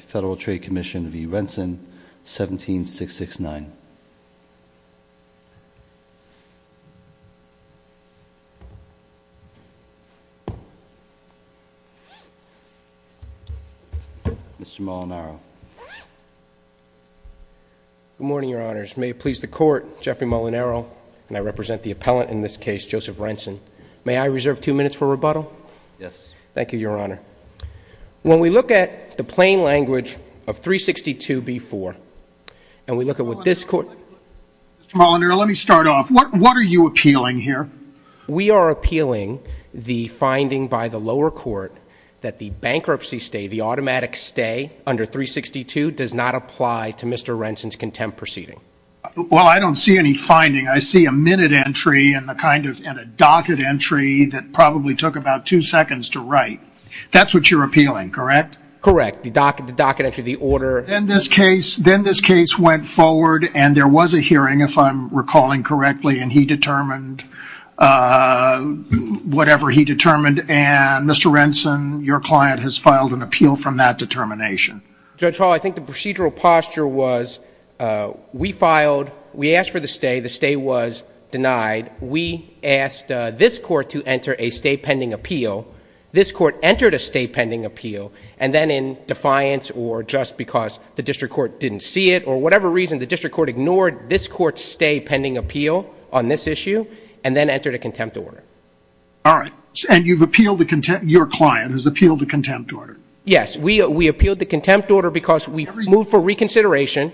Federal Trade Commission v. Renson, 17669. Mr. Molinaro. Good morning, Your Honors. May it please the Court, Jeffrey Molinaro, and I represent the appellant in this case, Joseph Renson. May I reserve two minutes for rebuttal? Yes. Thank you, Your Honor. When we look at the plain language of 362b-4, and we look at what this Court... Mr. Molinaro, let me start off. What are you appealing here? We are appealing the finding by the lower court that the bankruptcy stay, the automatic stay under 362, does not apply to Mr. Renson's contempt proceeding. Well, I don't see any finding. I see a minute entry and a docket entry that probably took about two seconds to write. That's what you're appealing, correct? Correct. The docket entry, the order... Then this case went forward, and there was a hearing, if I'm recalling correctly, and he determined whatever he determined, and Mr. Renson, your client, has filed an appeal from that determination. Judge Hall, I think the procedural posture was we filed, we asked for the stay. The stay was denied. We asked this Court to enter a stay pending appeal. This Court entered a stay pending appeal, and then in defiance, or just because the district court didn't see it, or whatever reason, the district court ignored this Court's stay pending appeal on this issue, and then entered a contempt order. All right. And you've appealed the contempt... Your client has appealed the contempt order. Yes. We appealed the contempt order because we moved for reconsideration.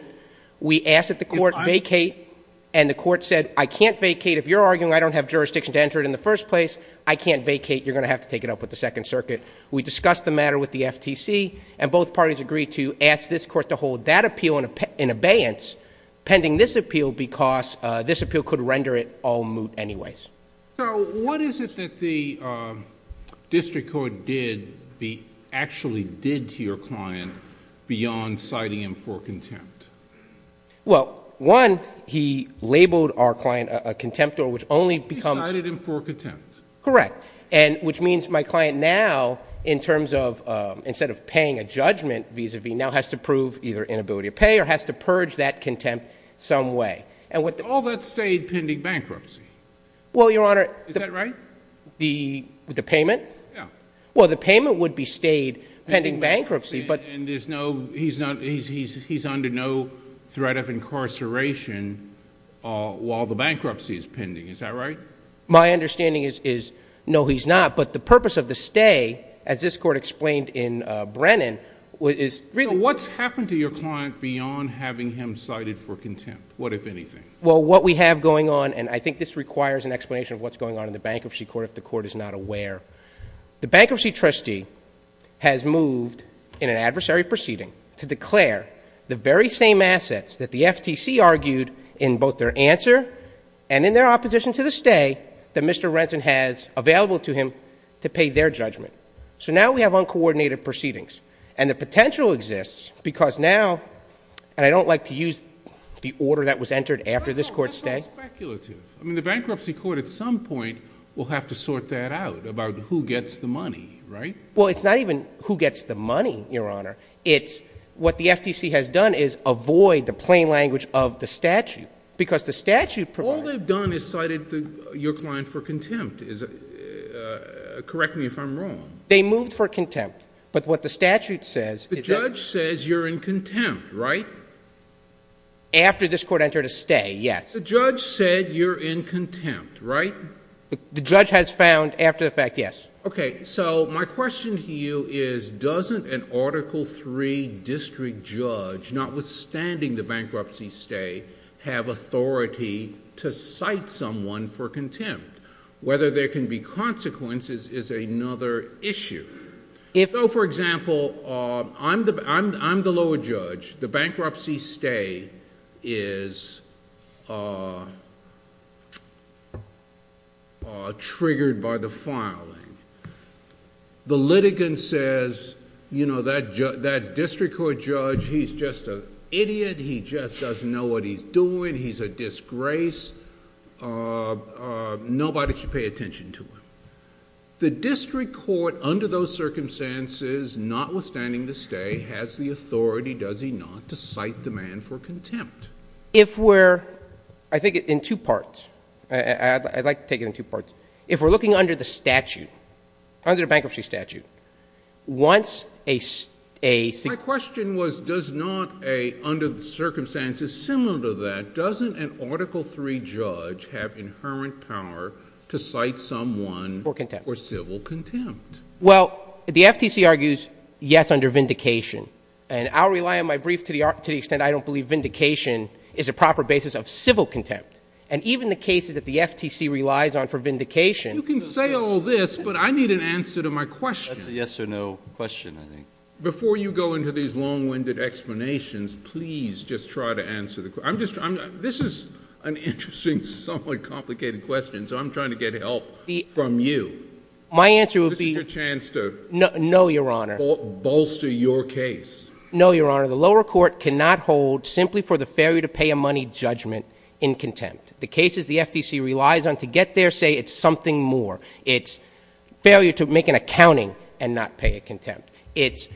We asked that the Court vacate, and the Court said, I can't vacate. If you're arguing I don't have jurisdiction to enter it in the first place, I can't vacate. You're going to have to take it up with the Second Circuit. We discussed the matter with the FTC, and both parties agreed to ask this Court to hold that appeal in abeyance pending this appeal because this appeal could render it all moot anyways. So what is it that the district court did, actually did to your client beyond citing him for contempt? Well, one, he labeled our client a contempt order, which only becomes... He cited him for contempt. Correct. And which means my client now, in terms of, instead of paying a judgment vis-a-vis, now has to prove either inability to pay or has to purge that contempt some way. And what the... All that stayed pending bankruptcy. Well, Your Honor... Is that right? The payment? Yeah. Well, the payment would be stayed pending bankruptcy, but... And there's no... He's under no threat of incarceration while the bankruptcy is pending. Is that right? My understanding is, no, he's not. But the purpose of the stay, as this Court explained in Brennan, is... So what's happened to your client beyond having him cited for contempt? What, if anything? Well, what we have going on, and I think this requires an explanation of what's going on in the bankruptcy court if the court is not aware, the bankruptcy trustee has moved in an adversary proceeding to declare the very same assets that the FTC argued in both their answer and in their opposition to the stay that Mr. Renson has available to him to pay their judgment. So now we have uncoordinated proceedings. And the potential exists because now... And I don't like to use the order that was entered after this Court's stay. I mean, the bankruptcy court at some point will have to sort that out about who gets the money, right? Well, it's not even who gets the money, Your Honor. It's what the FTC has done is avoid the plain language of the statute, because the statute provides... All they've done is cited your client for contempt. Correct me if I'm wrong. They moved for contempt. But what the statute says... The judge says you're in contempt, right? After this Court entered a stay, yes. The judge said you're in contempt, right? The judge has found, after the fact, yes. Okay. So my question to you is, doesn't an Article III district judge, notwithstanding the bankruptcy stay, have authority to cite someone for contempt? Whether there can be consequences is another issue. So for example, I'm the lower judge. The bankruptcy stay is triggered by the filing. The litigant says, that district court judge, he's just an idiot. He just doesn't know what he's doing. He's a disgrace. Nobody should pay attention to him. The district court, under those circumstances, notwithstanding the stay, has the authority, does he not, to cite the man for contempt? If we're... I think in two parts. I'd like to take it in two parts. If we're looking under the statute, under the bankruptcy statute, once a... My question was, does not a, under the circumstances similar to that, doesn't an Article III judge have inherent power to cite someone for civil contempt? Well, the FTC argues, yes, under vindication. And I'll rely on my brief to the extent I don't believe vindication is a proper basis of civil contempt. And even the cases that the FTC relies on for vindication... You can say all this, but I need an answer to my question. That's a yes or no question, I think. Before you go into these long-winded explanations, please just try to answer the... I'm just... This is an interesting, somewhat complicated question, so I'm trying to get help from you. My answer would be... This is your chance to... No, Your Honor. ...bolster your case. No, Your Honor. The lower court cannot hold simply for the failure to pay a money judgment in contempt. The cases the FTC relies on to get there say it's something more. It's failure to make an accounting and not pay a contempt. It's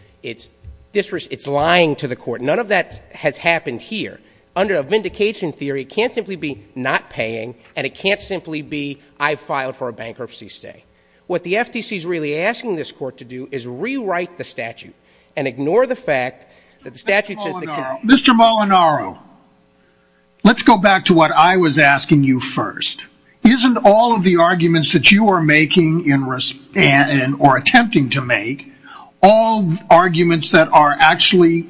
lying to the court. None of that has happened here. Under a vindication theory, it can't simply be not paying, and it can't simply be, I filed for a bankruptcy stay. What the FTC's really asking this court to do is rewrite the statute and ignore the fact that the statute says... Mr. Molinaro, let's go back to what I was asking you first. Isn't all of the arguments that you are making or attempting to make all arguments that are actually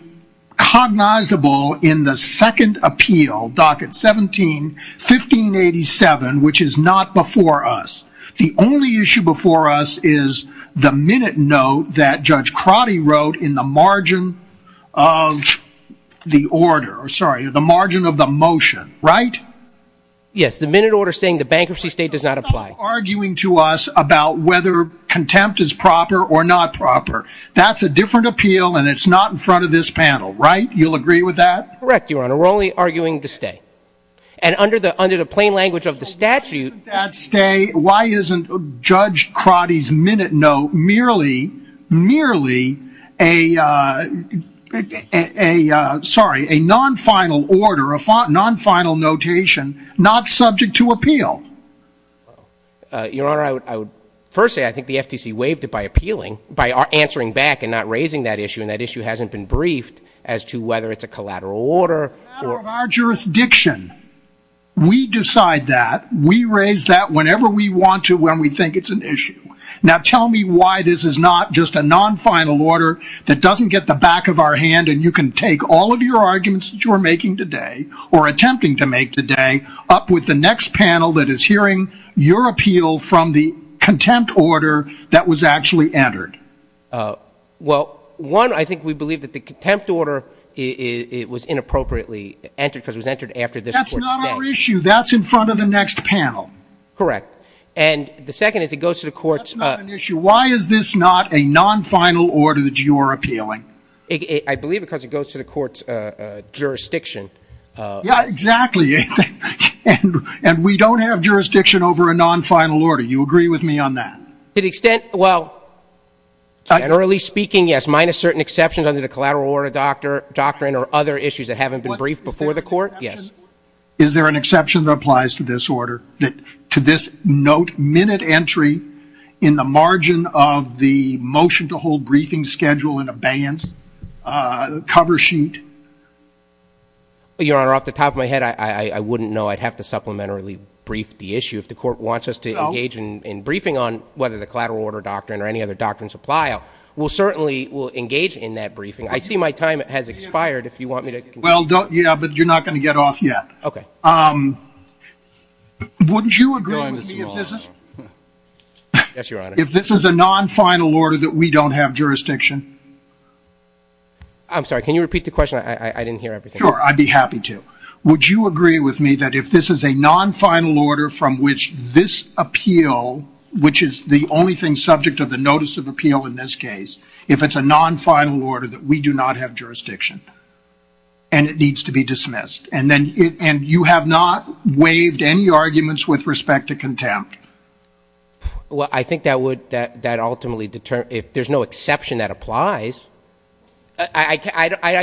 cognizable in the second appeal, docket 17, 1587, which is not before us? The only issue before us is the minute note that Judge Crotty wrote in the margin of the order. Sorry, the margin of the motion, right? Yes, the minute order saying the bankruptcy stay does not apply. You're arguing to us about whether contempt is proper or not proper. That's a different appeal, and it's not in front of this panel, right? You'll agree with that? Correct, Your Honor. We're only arguing the stay. And under the plain language of the statute... Why isn't that stay, why isn't Judge Crotty's minute note merely a non-final order, a non-final notation, not subject to appeal? Your Honor, I would first say I think the FTC waived it by appealing, by appealing. We raised that whenever we want to, when we think it's an issue. Now tell me why this is not just a non-final order that doesn't get the back of our hand, and you can take all of your arguments that you are making today or attempting to make today up with the next panel that is hearing your appeal from the contempt order that was actually entered. Well, one, I think we believe that the contempt order was inappropriately entered because it was entered after this Court's stay. That's not our issue. That's in front of the next panel. Correct. And the second is it goes to the Court's... That's not an issue. Why is this not a non-final order that you are appealing? I believe because it goes to the Court's jurisdiction. Yeah, exactly. And we don't have jurisdiction over a non-final order. You agree with me on that? To the extent, well, generally speaking, yes, minus certain exceptions under the collateral order doctrine or other issues that haven't been briefed before the Court, yes. Is there an exception that applies to this order that to this note, minute entry in the margin of the motion to hold briefing schedule and abeyance cover sheet? Your Honor, off the top of my head, I wouldn't know. I'd have to supplementarily brief the issue. If the Court wants us to engage in briefing on whether the collateral order doctrine or any other doctrines apply, we'll certainly engage in that briefing. I see my time has expired. Well, yeah, but you're not going to get off yet. Okay. Wouldn't you agree with me if this is... Yes, Your Honor. I'm sorry. Can you repeat the question? I didn't hear everything. Sure. I'd be happy to. Would you agree with me that if this is a non-final order from which this appeal, which is the only thing subject of the notice of appeal in this case, if it's a non-final order that we do not have jurisdiction and it needs to be dismissed and you have not waived any arguments with respect to contempt? Well, I think that would ultimately determine if there's no exception that applies. I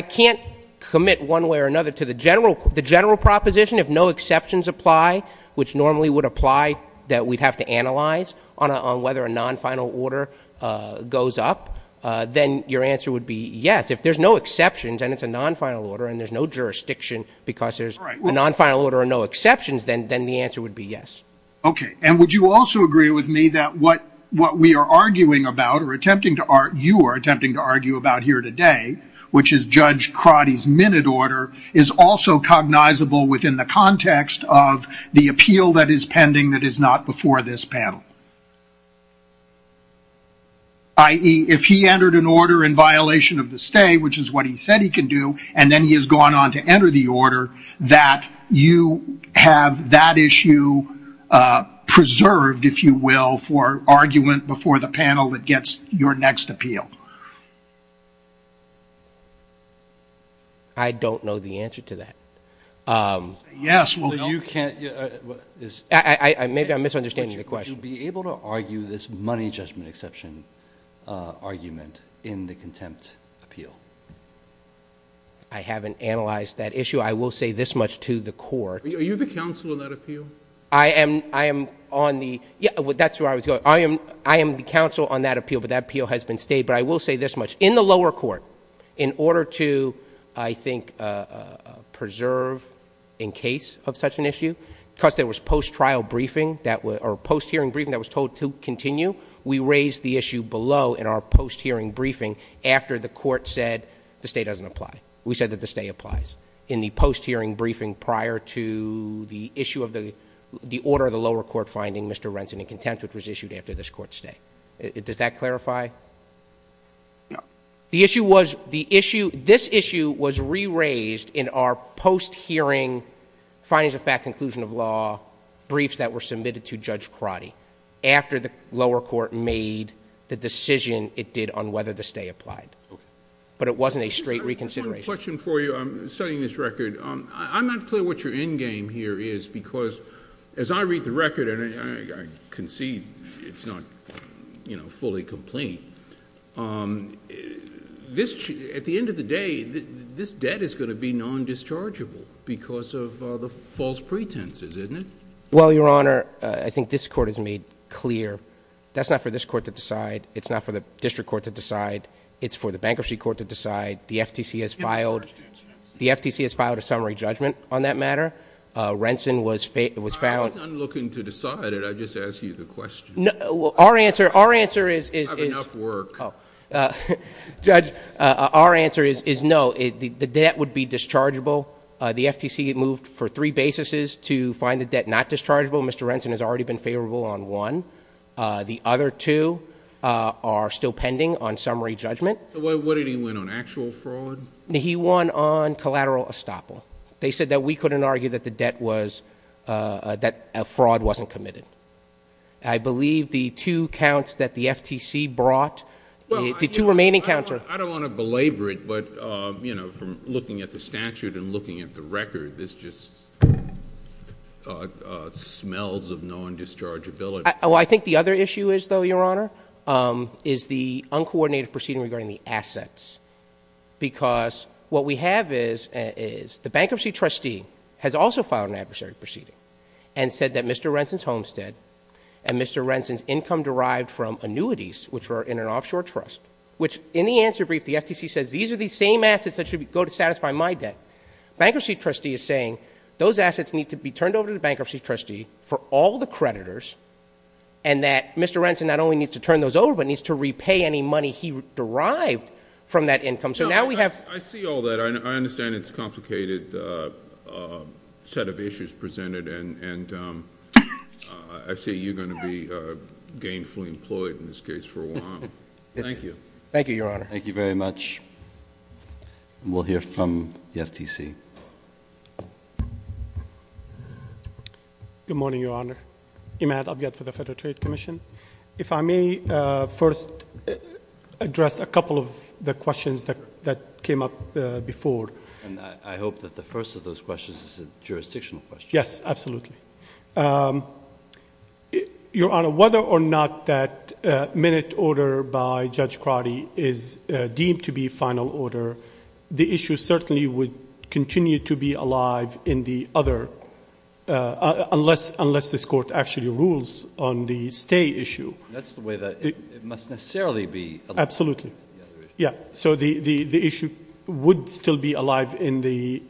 can't commit one way or another to the general proposition. If no exceptions apply, which normally would apply that we'd have to analyze on whether a non-final order goes up, then your answer would be yes. If there's no exceptions and it's a non-final order and there's no jurisdiction because there's a non-final order and no exceptions, then the answer would be yes. Okay. And would you also agree with me that what we are arguing about or attempting to argue about here today, which is Judge Crotty's minute order, is also cognizable within the context of the appeal that is pending that is not before this panel? I.e., if he entered an order in violation of the stay, which is what he said he can do, and then he has gone on to enter the order, that you have that issue preserved, if you will, for argument before the panel that gets your next appeal? I don't know the answer to that. Yes. Well, you can't. Maybe I'm in the contempt appeal. I haven't analyzed that issue. I will say this much to the Court. Are you the counsel in that appeal? That's where I was going. I am the counsel on that appeal, but that appeal has been stayed. But I will say this much. In the lower court, in order to, I think, preserve in case of such an issue, because there was post-trial briefing or post-hearing briefing that was told to continue, we raised the issue below in our post-hearing briefing after the Court said the stay doesn't apply. We said that the stay applies in the post-hearing briefing prior to the issue of the order of the lower court finding Mr. Renson in contempt, which was issued after this Court stay. Does that clarify? No. The issue was, this issue was re-raised in our post-hearing findings of fact, conclusion of law briefs that were submitted to Judge Crotty after the lower court made the decision it did on whether the stay applied. But it wasn't a straight reconsideration. I have one question for you. I'm studying this record. I'm not clear what your endgame here is, because as I read the record, and I concede it's not fully complete, at the end of the day, this debt is going to be non-dischargeable because of the false pretenses, isn't it? Well, Your Honor, I think this Court has made clear that's not for this Court to decide. It's not for the District Court to decide. It's for the Bankruptcy Court to decide. The FTC has filed a summary judgment on that matter. Renson was found I'm not looking to decide it. I'm just asking you the question. I have enough work. Judge, our answer is no. The debt would be dischargeable. The FTC moved for three basis to find the debt not dischargeable. Mr. Renson has already been favorable on one. The other two are still pending on summary judgment. What did he win on? Actual fraud? He won on collateral estoppel. They said that we couldn't argue that the debt was that fraud wasn't committed. I believe the two counts that the FTC brought, the two remaining counts are I don't want to belabor it, but from looking at the statute and looking at the record, this just smells of non-dischargeability. I think the other issue is, though, Your Honor, is the uncoordinated proceeding regarding the assets. What we have is the bankruptcy trustee has also filed an adversary proceeding and said that Mr. Renson's homestead and Mr. Renson's income derived from annuities, which were in an offshore trust, which in the answer brief the FTC says these are the same assets that should go to satisfy my debt. Bankruptcy trustee is saying those assets need to be turned over, but needs to repay any money he derived from that income. I see all that. I understand it's a complicated set of issues presented and I see you going to be gainfully employed in this case for a while. Thank you. Thank you, Your Honor. Thank you very much. We'll hear from the FTC. Good morning, Your Honor. Imad Abged for the Federal Trade Commission. If I may first address a couple of the questions that came up before. I hope that the first of those questions is a jurisdictional question. Yes, absolutely. Your Honor, whether or not that minute order by Judge Crotty is deemed to be final order, the issue certainly would continue to be alive in the other, unless this Court actually rules on the stay issue. That's the way that it must necessarily be. Absolutely. Yeah, so the issue would still be alive in the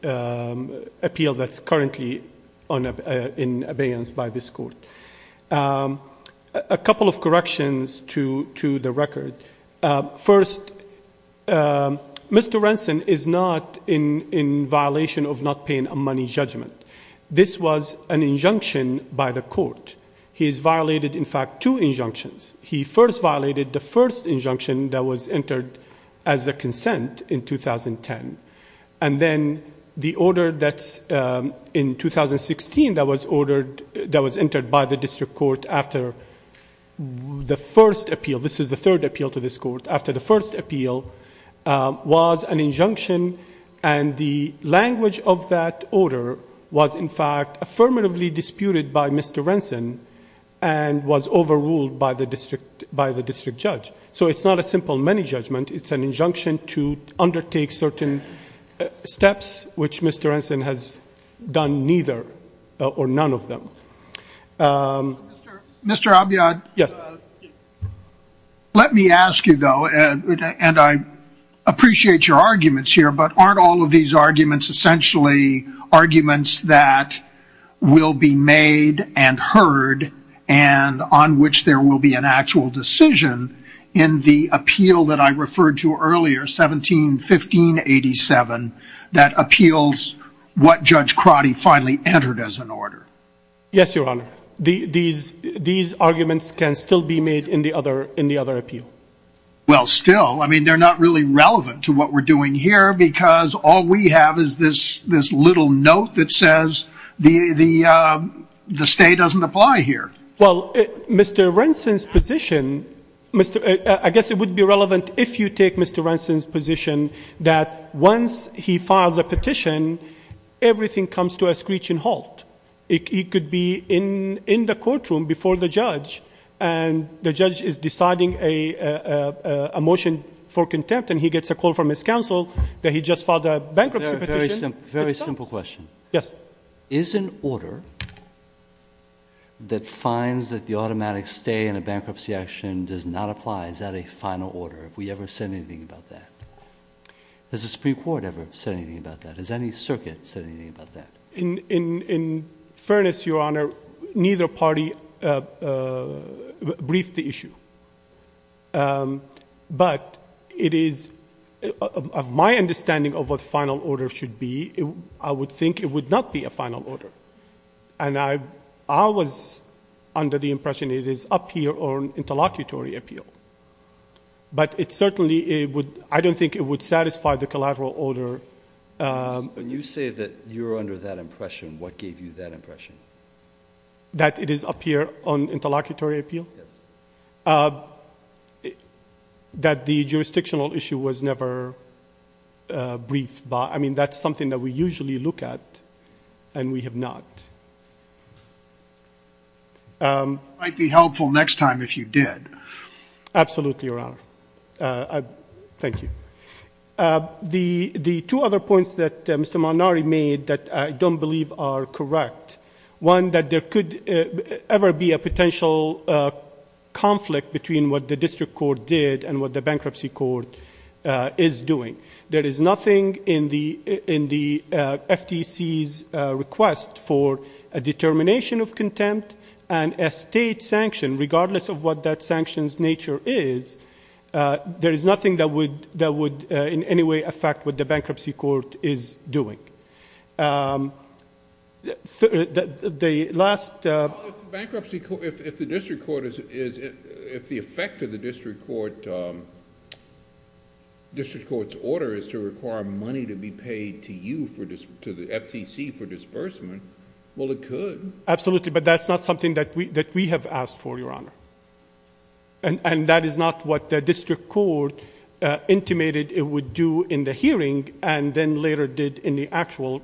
appeal that's currently in abeyance by this Court. A couple of corrections to the record. First, Mr. Renson is not in violation of not paying a money judgment. This was an injunction by the Court. He's violated, in fact, two injunctions. He first violated the first injunction that was entered as a consent in 2010, and then the order that's in 2016 that was entered by the District Court after the first appeal. This is the third appeal to this Court. After the first appeal was an injunction, and the language of that order was, in fact, affirmatively disputed by Mr. Renson and was overruled by the District Judge. So it's not a simple money judgment. It's an injunction to undertake certain steps, which Mr. Renson has done neither or none of them. Mr. Abiyad, let me ask you, though, and I appreciate your arguments here, but aren't all of these arguments essentially arguments that will be made and heard and on which there will be an actual decision in the appeal that I referred to earlier, 17-15-87, that appeals what Judge Crotty finally entered as an order? Yes, Your Honor. These arguments can still be made in the other appeal. Well, still. I mean, they're not really relevant to what we're doing here because all we have is this little note that says the stay doesn't apply here. Well, Mr. Renson's position, I guess it would be relevant if you take Mr. Renson's position that once he files a petition, everything comes to a screeching halt. He could be in the courtroom before the judge, and the judge is deciding a motion for contempt, and he gets a call from his counsel that he just filed a bankruptcy petition. Very simple question. Yes. Is an order that finds that the automatic stay in a bankruptcy action does not apply, is that a final order? Have we ever said anything about that? Has the Supreme Court ever said anything about that? Has any circuit said anything about that? In fairness, Your Honor, neither party briefed the issue, but it is my understanding of what the final order should be. I would think it would not be a final order, and I was under the impression it is up to your own interlocutory appeal, but certainly I don't think it would satisfy the collateral order. When you say that you're under that impression, what gave you that impression? That it is up to your own interlocutory appeal? Yes. That the jurisdictional issue was never briefed by, I mean, that's something that we usually look at, and we have not. It might be helpful next time if you did. Absolutely, Your Honor. Thank you. The two other points that Mr. Malnari made that I don't believe are correct, one, that there could ever be a potential conflict between what the district court did and what the bankruptcy court is doing. There is nothing in the FTC's request for a determination of contempt and a state sanction, regardless of what that sanction's nature is, there is nothing that would in any way affect what the bankruptcy court is doing. If the effect of the district court's order is to require money to be paid to the FTC for disbursement, well, it could. Absolutely, but that's not something that we have asked for, Your Honor. That is not what the district court intimated it would do in the hearing and then later did in the actual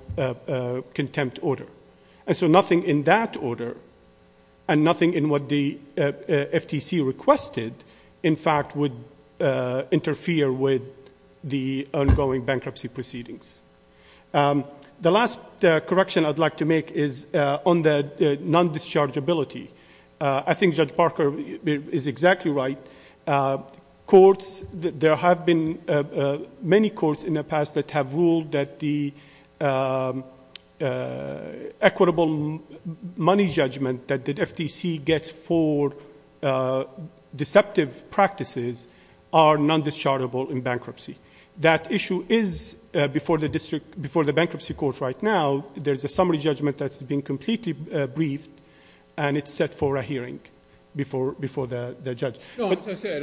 contempt order. Nothing in that order and nothing in what the FTC requested, in fact, would interfere with the ongoing bankruptcy proceedings. The last correction I'd like to make is on the non-dischargeability. I think Judge Parker is exactly right. There have been many courts in the past that have ruled that the equitable money judgment that the FTC gets for deceptive practices are non-dischargeable in bankruptcy. That issue is before the bankruptcy court right now. There's a summary judgment that's been completely briefed and it's set for a hearing before the judge. As you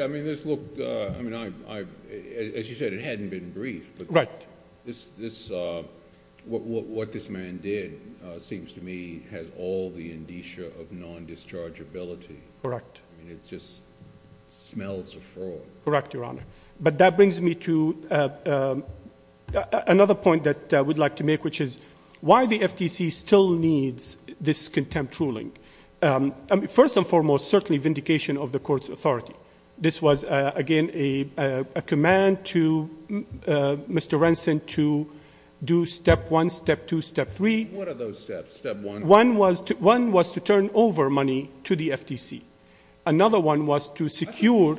said, it hadn't been briefed. What this man did seems to me has all the indicia of non-dischargeability. It just smells of fraud. Correct, Your Honor. That brings me to another point that I would like to make, which is why the FTC still needs this contempt ruling? First and foremost, certainly vindication of the court's demand to Mr. Renson to do step one, step two, step three. What are those steps? Step one? One was to turn over money to the FTC. Another one was to secure...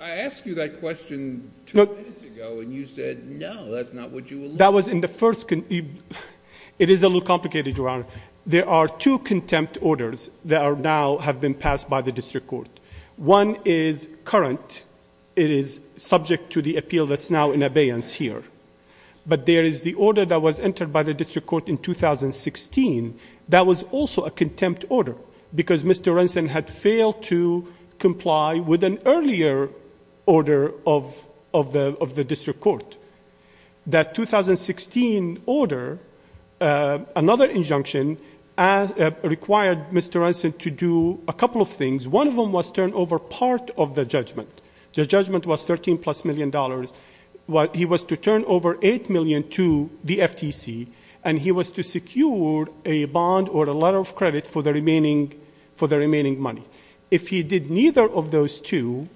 I asked you that question two minutes ago and you said, no, that's not what you... That was in the first... It is a little complicated, Your Honor. There are two contempt orders that now have been passed by the district court. One is current. It is subject to the appeal that's now in abeyance here. But there is the order that was entered by the district court in 2016 that was also a contempt order because Mr. Renson had failed to comply with an earlier order of the district court. That 2016 order, another injunction, required Mr. Renson to do a couple of things. One of them was turn over part of the judgment. The judgment was 13 plus million dollars. He was to turn over 8 million to the FTC and he was to secure a bond or a letter of credit for the remaining money. If he did neither of those two,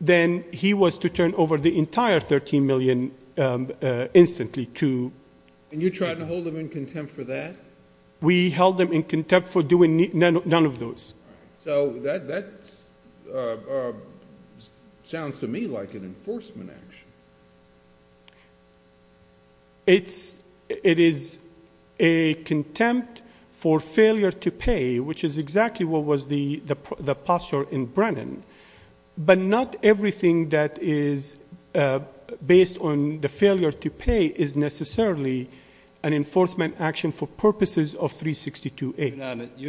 then he was to turn over the entire 13 million instantly to... And you tried to hold him in contempt for that? We held him in contempt for doing none of those. That sounds to me like an enforcement action. It is a contempt for failure to pay, which is exactly what was the case. You're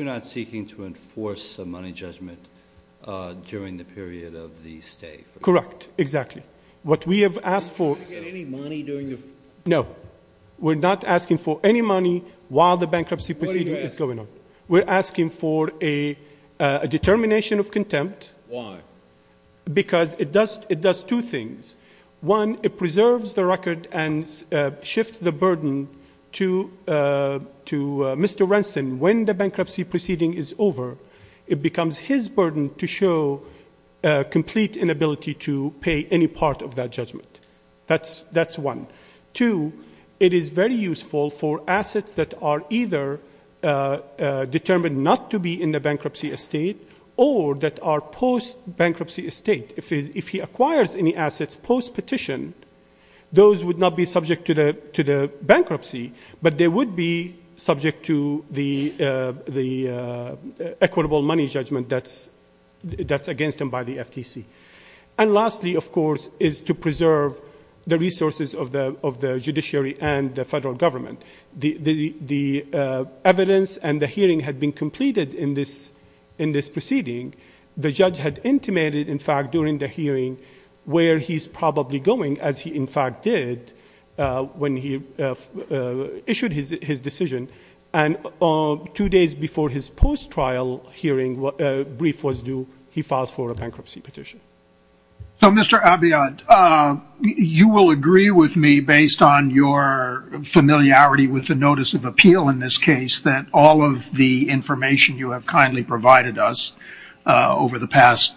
not seeking to enforce a money judgment during the period of the stay? Correct. Exactly. Did you get any money during the... No. We're not asking for any money while the bankruptcy procedure is going on. We're asking for a determination of contempt. Why? Because it does two things. One, it preserves the record and shifts the burden to Mr. Renson. When the bankruptcy proceeding is over, it becomes his burden to show complete inability to pay any part of that judgment. That's one. Two, it is very useful for assets that are either determined not to be in the bankruptcy estate or that are post-bankruptcy estate. If he acquires any assets post-petition, those would not be subject to the bankruptcy, but they would be subject to the equitable money judgment that's against him by the FTC. Lastly, of course, is to preserve the resources of the judiciary and the federal government. The evidence and the hearing had been completed in this proceeding. The judge had intimated, in fact, during the hearing where he's probably going, as he, in fact, did when he issued his decision. Two days before his post-trial hearing brief was due, he filed for a bankruptcy petition. So, Mr. Abiyad, you will agree with me, based on your familiarity with the notice of appeal in this case, that all of the information you have kindly provided us over the past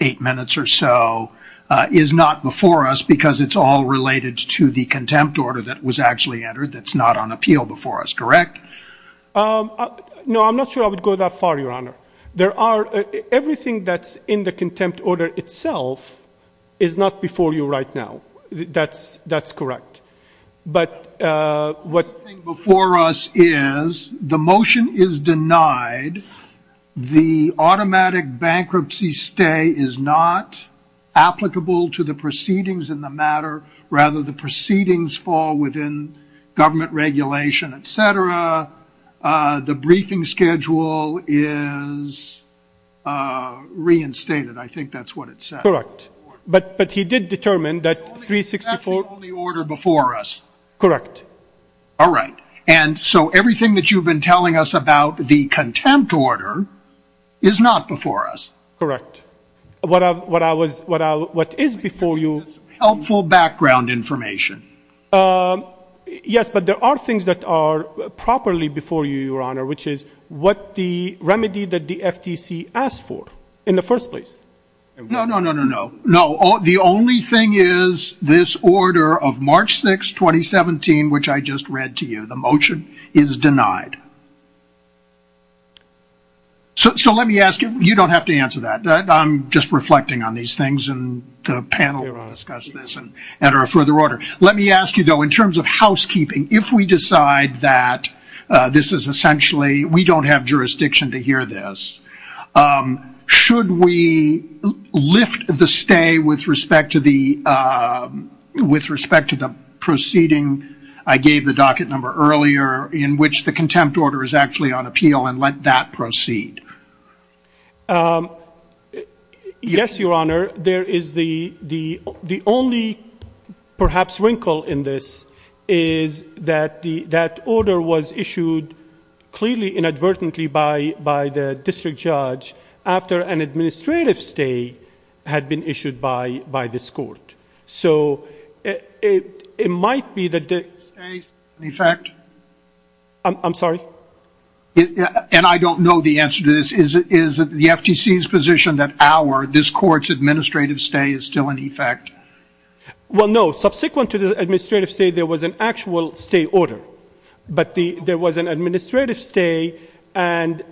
eight minutes or so is not before us because it's all related to the contempt order that was actually entered that's not on the agenda. And the fact that it's in the contempt order itself is not before you right now. That's correct. But what's before us is the motion is denied. The automatic bankruptcy stay is not applicable to the proceedings in the matter. Rather, the proceedings fall within government regulation, et cetera. The briefing schedule is reinstated. I think that's what it says. Correct. But he did determine that 364 That's the only order before us. Correct. All right. And so everything that you've been telling us about the contempt order is not before us. Correct. What is before you is helpful background information. Yes, but there are things that are properly before you, Your Honor, which is what the remedy that the FTC asked for in the first place. No, no, no, no, no. The only thing is this order of March 6, 2017, which I just read to you, the motion is denied. So let me ask you, you don't have to answer that. I'm just reflecting on these things and the panel will discuss this and enter a further order. Let me ask you, though, in terms of housekeeping, if we decide that this is essentially, we don't have jurisdiction to hear this, should we lift the stay with respect to the proceeding I gave the docket number earlier in which the contempt order is actually on appeal and let that proceed? Yes, Your Honor. There is the only perhaps wrinkle in this is that the order was issued clearly inadvertently by the district judge after an administrative stay had been issued by this court. So it might be that the... I'm sorry? And I don't know the answer to this. Is it the FTC's position that our, this court's administrative stay is still in effect? Well, no. Subsequent to the administrative stay, there was an actual stay order. But there was an administrative stay and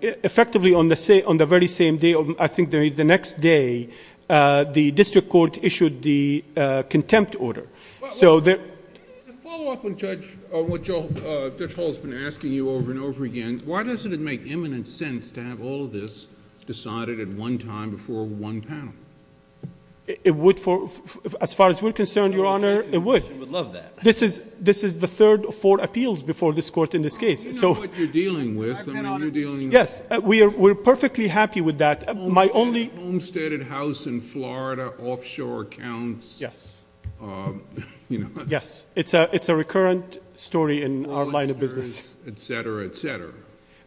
effectively on the very same day, I think the next day, the district court issued the contempt order. To follow up on what Judge Hall has been asking you over and over again, why doesn't it make imminent sense to have all of this decided at one time before one panel? It would for... As far as we're concerned, Your Honor, it would. I would love that. This is the third of four appeals before this court in this case. You know what you're dealing with. I mean, you're dealing with... Yes. We're perfectly happy with that. My only... Yes. It's a recurrent story in our line of business. Et cetera, et cetera.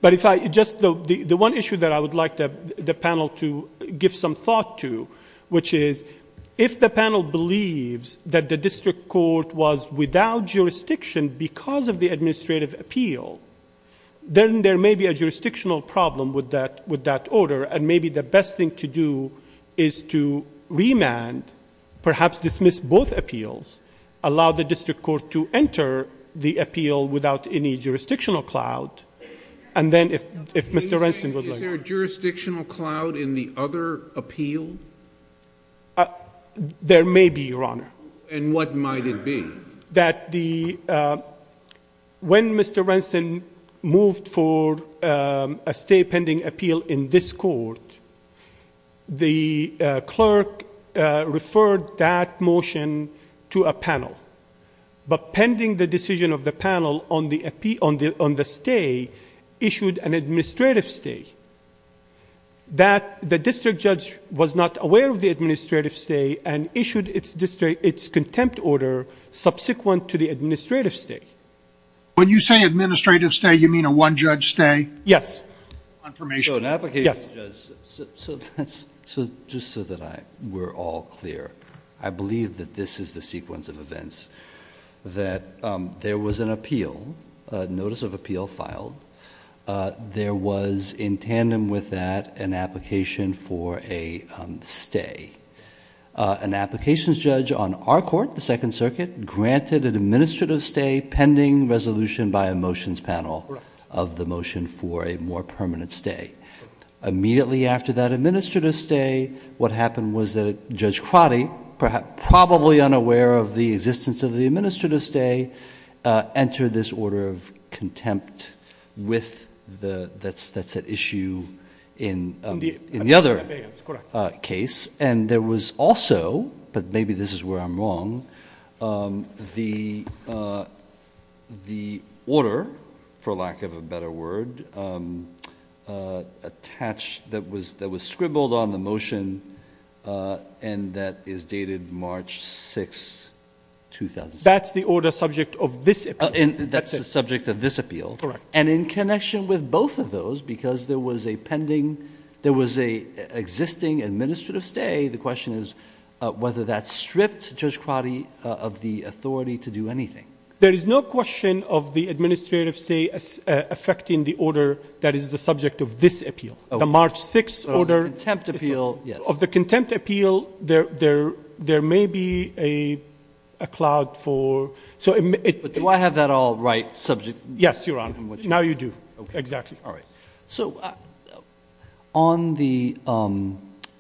But if I... Just the one issue that I would like the panel to give some thought to, which is if the panel believes that the district court was without jurisdiction because of the administrative appeal, then there may be a jurisdictional problem with that order. And maybe the best thing to do is to remand, perhaps dismiss both appeals, allow the district court to enter the appeal without any jurisdictional cloud, and then if Mr. Renson would like... Is there a jurisdictional cloud in the other appeal? There may be, Your Honor. And what might it be? That the... When Mr. Renson moved for a stay pending appeal in this court, the clerk referred that motion to a panel. But pending the decision of the panel on the stay, issued an administrative stay. That the district judge was not aware of the administrative stay and issued its contempt order subsequent to the administrative stay. When you say administrative stay, you mean a one-judge stay? Yes. So an application... Yes. Just so that we're all clear, I believe that this is the sequence of events. That there was an appeal, a notice of appeal filed. There was in tandem with that an application for a stay. An applications judge on our court, the Second Circuit, granted an administrative stay pending resolution by a motion for a more permanent stay. Immediately after that administrative stay, what happened was that Judge Crotty, probably unaware of the existence of the administrative stay, entered this order of contempt with... That's at issue in the other case. And there was also, but maybe this is where I'm wrong, the order, for lack of a better word, attached... that was scribbled on the motion and that is dated March 6, 2006. That's the order subject of this appeal. That's the subject of this appeal. Correct. And in connection with both of those, because there was a pending... there was an existing administrative stay, the question is whether that stripped Judge Crotty of the authority to do anything. There is no question of the administrative stay affecting the order that is the subject of this appeal. The March 6 order... Of the contempt appeal, yes. Of the contempt appeal, there may be a cloud for... Do I have that all right subject... Yes, Your Honor. Now you do. Exactly. All right. On the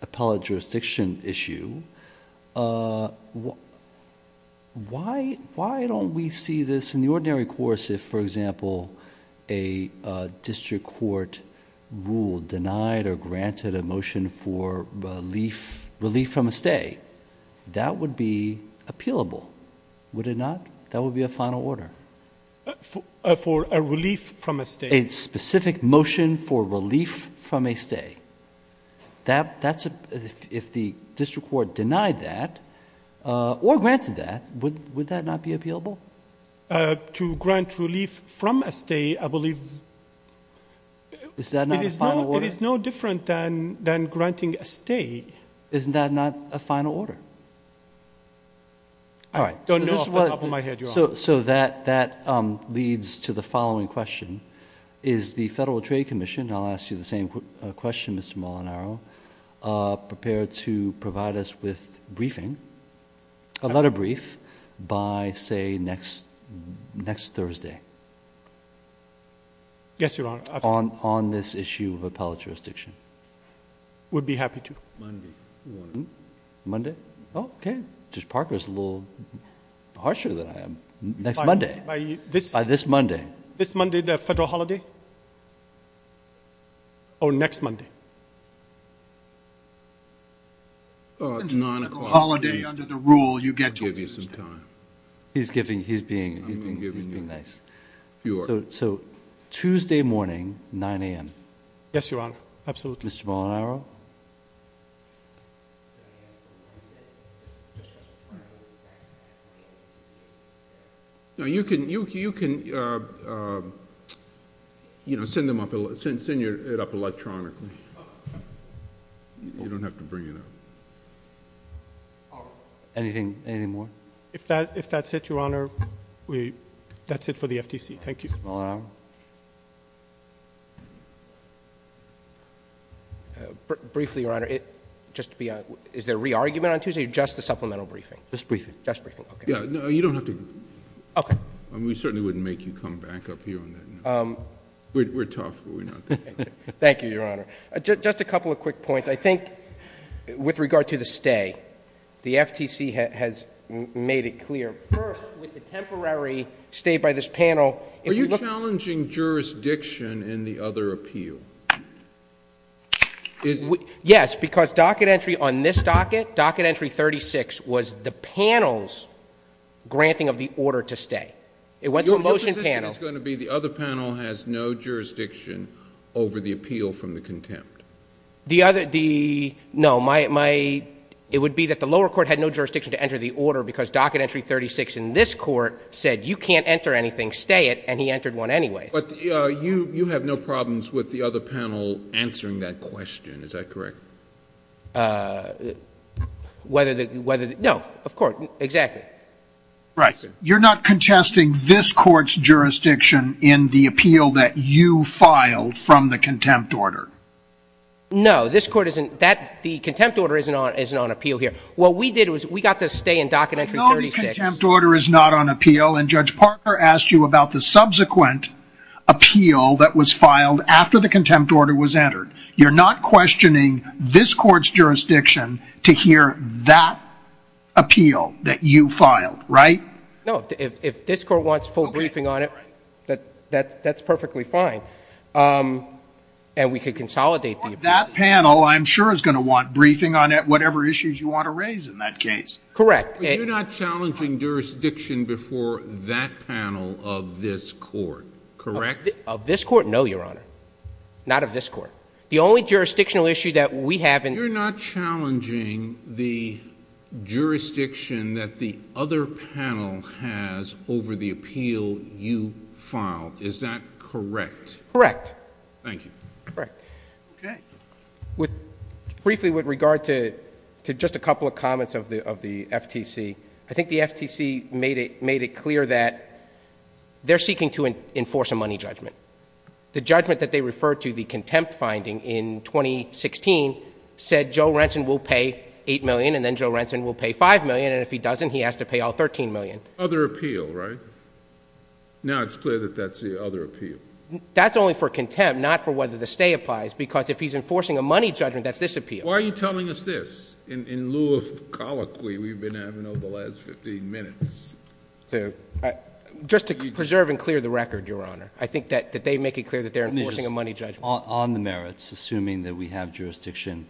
appellate jurisdiction issue, why don't we see this in the ordinary course if, for example, a district court ruled, denied, or granted a motion for relief from a stay? That would be appealable, would it not? That would be a final order. For a relief from a stay. A specific motion for relief from a stay. If the district court denied that, or granted that, would that not be appealable? To grant relief from a stay, I believe... Is that not a final order? It is no different than granting a stay. Isn't that not a final order? So that leads to the following question. Is the Federal Trade Commission... I'll ask you the same question, Mr. Molinaro... prepared to provide us with a letter brief by, say, next Thursday... Yes, Your Honor.... on this issue of appellate jurisdiction? Would be happy to. Monday morning. Monday? Oh, okay. Judge Parker is a little harsher than I am. Next Monday? By this... By this Monday. This Monday, the Federal holiday? Or next Monday? It's not a holiday under the rule. You get to give you some time. He's giving... he's being... I'm giving you... He's being nice.... fewer. So, Tuesday morning, 9 a.m. Yes, Your Honor. Absolutely. Mr. Molinaro? No, you can... you can... you know, send them up... send it up electronically. You don't have to bring it up. Anything... anything more? If that's it, Your Honor, we... that's it for the FTC. Thank you. Mr. Molinaro? Briefly, Your Honor, it... just to be... is there a re-argument on Tuesday or just the supplemental briefing? Just briefing. Just briefing. Okay. Yeah. No, you don't have to... Okay. I mean, we certainly wouldn't make you come back up here on that. We're tough, but we're not that tough. Thank you, Your Honor. Just a couple of quick points. I think with regard to the stay, the FTC has made it clear, first, with the temporary stay by this panel... Are you challenging jurisdiction in the other appeal? Is... Yes, because docket entry on this docket, docket entry 36, was the panel's granting of the order to stay. It went to a motion panel. Your position is going to be the other panel has no jurisdiction over the appeal from the contempt. The other... the... no, my... my... It would be that the lower court had no jurisdiction to enter the order because docket entry 36 in this court said, you can't enter anything, stay it, and he entered one anyway. But, you have no problems with the other panel answering that question. Is that correct? Whether the... no, of course. Exactly. Right. You're not contesting this court's jurisdiction in the appeal that you filed from the contempt order? No. This court isn't... that... the contempt order isn't on appeal here. What we did was we got the stay in docket entry 36... The contempt order is not on appeal, and Judge Parker asked you about the subsequent appeal that was filed after the contempt order was entered. You're not questioning this court's jurisdiction to hear that appeal that you filed, right? No. If this court wants full briefing on it, that's perfectly fine, and we could consolidate the appeal. That panel, I'm sure, is going to want briefing on it, whatever issues you want to raise in that case. Correct. You're not challenging jurisdiction before that panel of this court, correct? Of this court, no, Your Honor. Not of this court. The only jurisdictional issue that we have... You're not challenging the jurisdiction that the other panel has over the appeal you filed. Is that correct? Correct. Thank you. Correct. Okay. Briefly, with regard to just a couple of comments of the FTC, I think the FTC made it clear that they're seeking to enforce a money judgment. The judgment that they referred to, the contempt finding in 2016, said Joe Renson will pay $8 million, and then Joe Renson will pay $5 million, and if he doesn't, he has to pay all $13 million. Other appeal, right? Now it's clear that that's the other appeal. That's only for contempt, not for whether the stay applies, because if he's enforcing a money judgment, that's this appeal. Why are you telling us this, in lieu of colloquy we've been having over the last 15 minutes? Just to preserve and clear the record, Your Honor. I think that they make it clear that they're enforcing a money judgment. On the merits, assuming that we have jurisdiction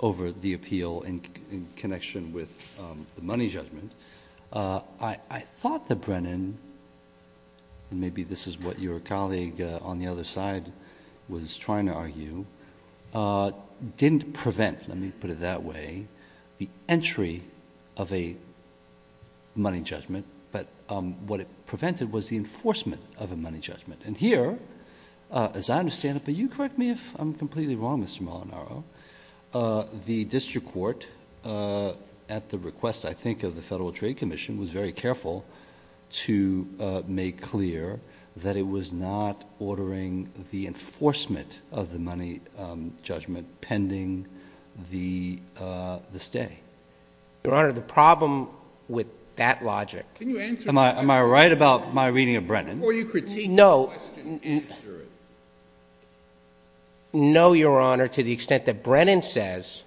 over the appeal in connection with the money judgment, I thought that Brennan, and maybe this is what your colleague on the other side was trying to argue, didn't prevent, let me put it that way, the entry of a money judgment, but what it prevented was the enforcement of a money judgment. And here, as I understand it, but you correct me if I'm completely wrong, Mr. Molinaro, the district court, at the request, I think, of the Federal Trade Commission, was very careful to make clear that it was not ordering the enforcement of the money judgment pending the stay. Your Honor, the problem with that logic— Can you answer— Am I right about my reading of Brennan? Before you critique the question, answer it. No, Your Honor, to the extent that Brennan says,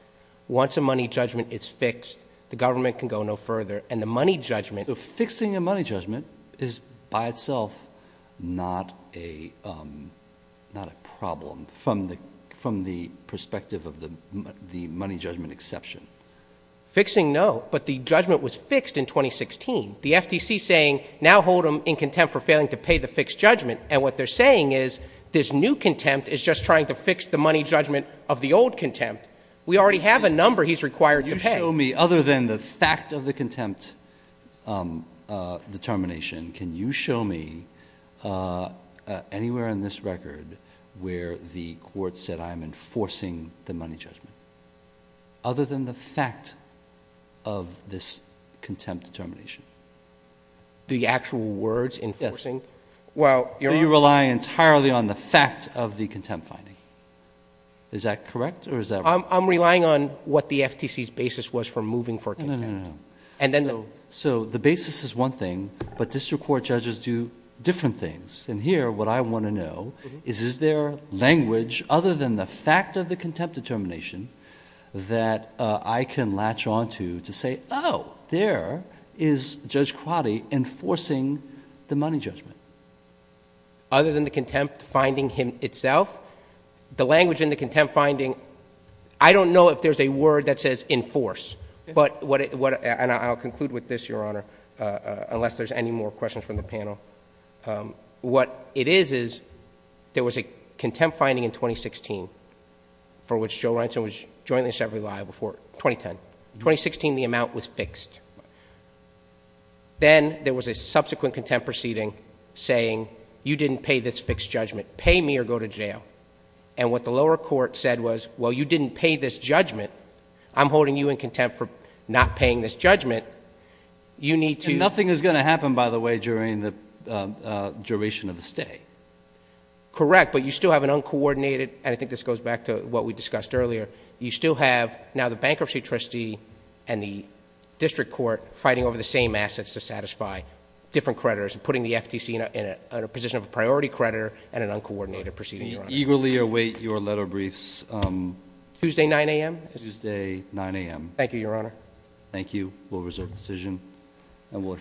once a money judgment is fixed, the government can go no further, and the money judgment— Fixing a money judgment is, by itself, not a problem, from the perspective of the money judgment exception. Fixing, no, but the judgment was fixed in 2016. The FTC is saying, now hold him in contempt for failing to pay the fixed judgment, and what they're saying is, this new contempt is just trying to fix the money judgment of the old contempt. We already have a number he's required to pay. Can you show me, other than the fact of the contempt determination, can you show me anywhere in this record where the court said, I am enforcing the money judgment, other than the fact of this contempt determination? The actual words, enforcing? Yes. Well, Your Honor— Do you rely entirely on the fact of the contempt finding? Is that correct, or is that wrong? I'm relying on what the FTC's basis was for moving for contempt. No, no, no, no. And then the— So the basis is one thing, but district court judges do different things. And here, what I want to know is, is there language, other than the fact of the contempt determination, that I can latch onto to say, oh, there is Judge Crotty enforcing the money judgment. Other than the contempt finding itself? The language in the contempt finding, I don't know if there's a word that says enforce. But what—and I'll conclude with this, Your Honor, unless there's any more questions from the panel. What it is, is there was a contempt finding in 2016 for which Joe Ransom was jointly and separately liable for, 2010. In 2016, the amount was fixed. Then there was a subsequent contempt proceeding saying, you didn't pay this fixed judgment. Pay me or go to jail. And what the lower court said was, well, you didn't pay this judgment. I'm holding you in contempt for not paying this judgment. You need to— And nothing is going to happen, by the way, during the duration of the stay. Correct. But you still have an uncoordinated—and I think this goes back to what we discussed earlier. You still have now the bankruptcy trustee and the district court fighting over the same assets to satisfy different creditors and putting the FTC in a position of a priority creditor and an uncoordinated proceeding, Your Honor. We eagerly await your letter briefs. Tuesday, 9 a.m.? Tuesday, 9 a.m. Thank you, Your Honor. Thank you. We'll reserve the decision and we'll adjourn.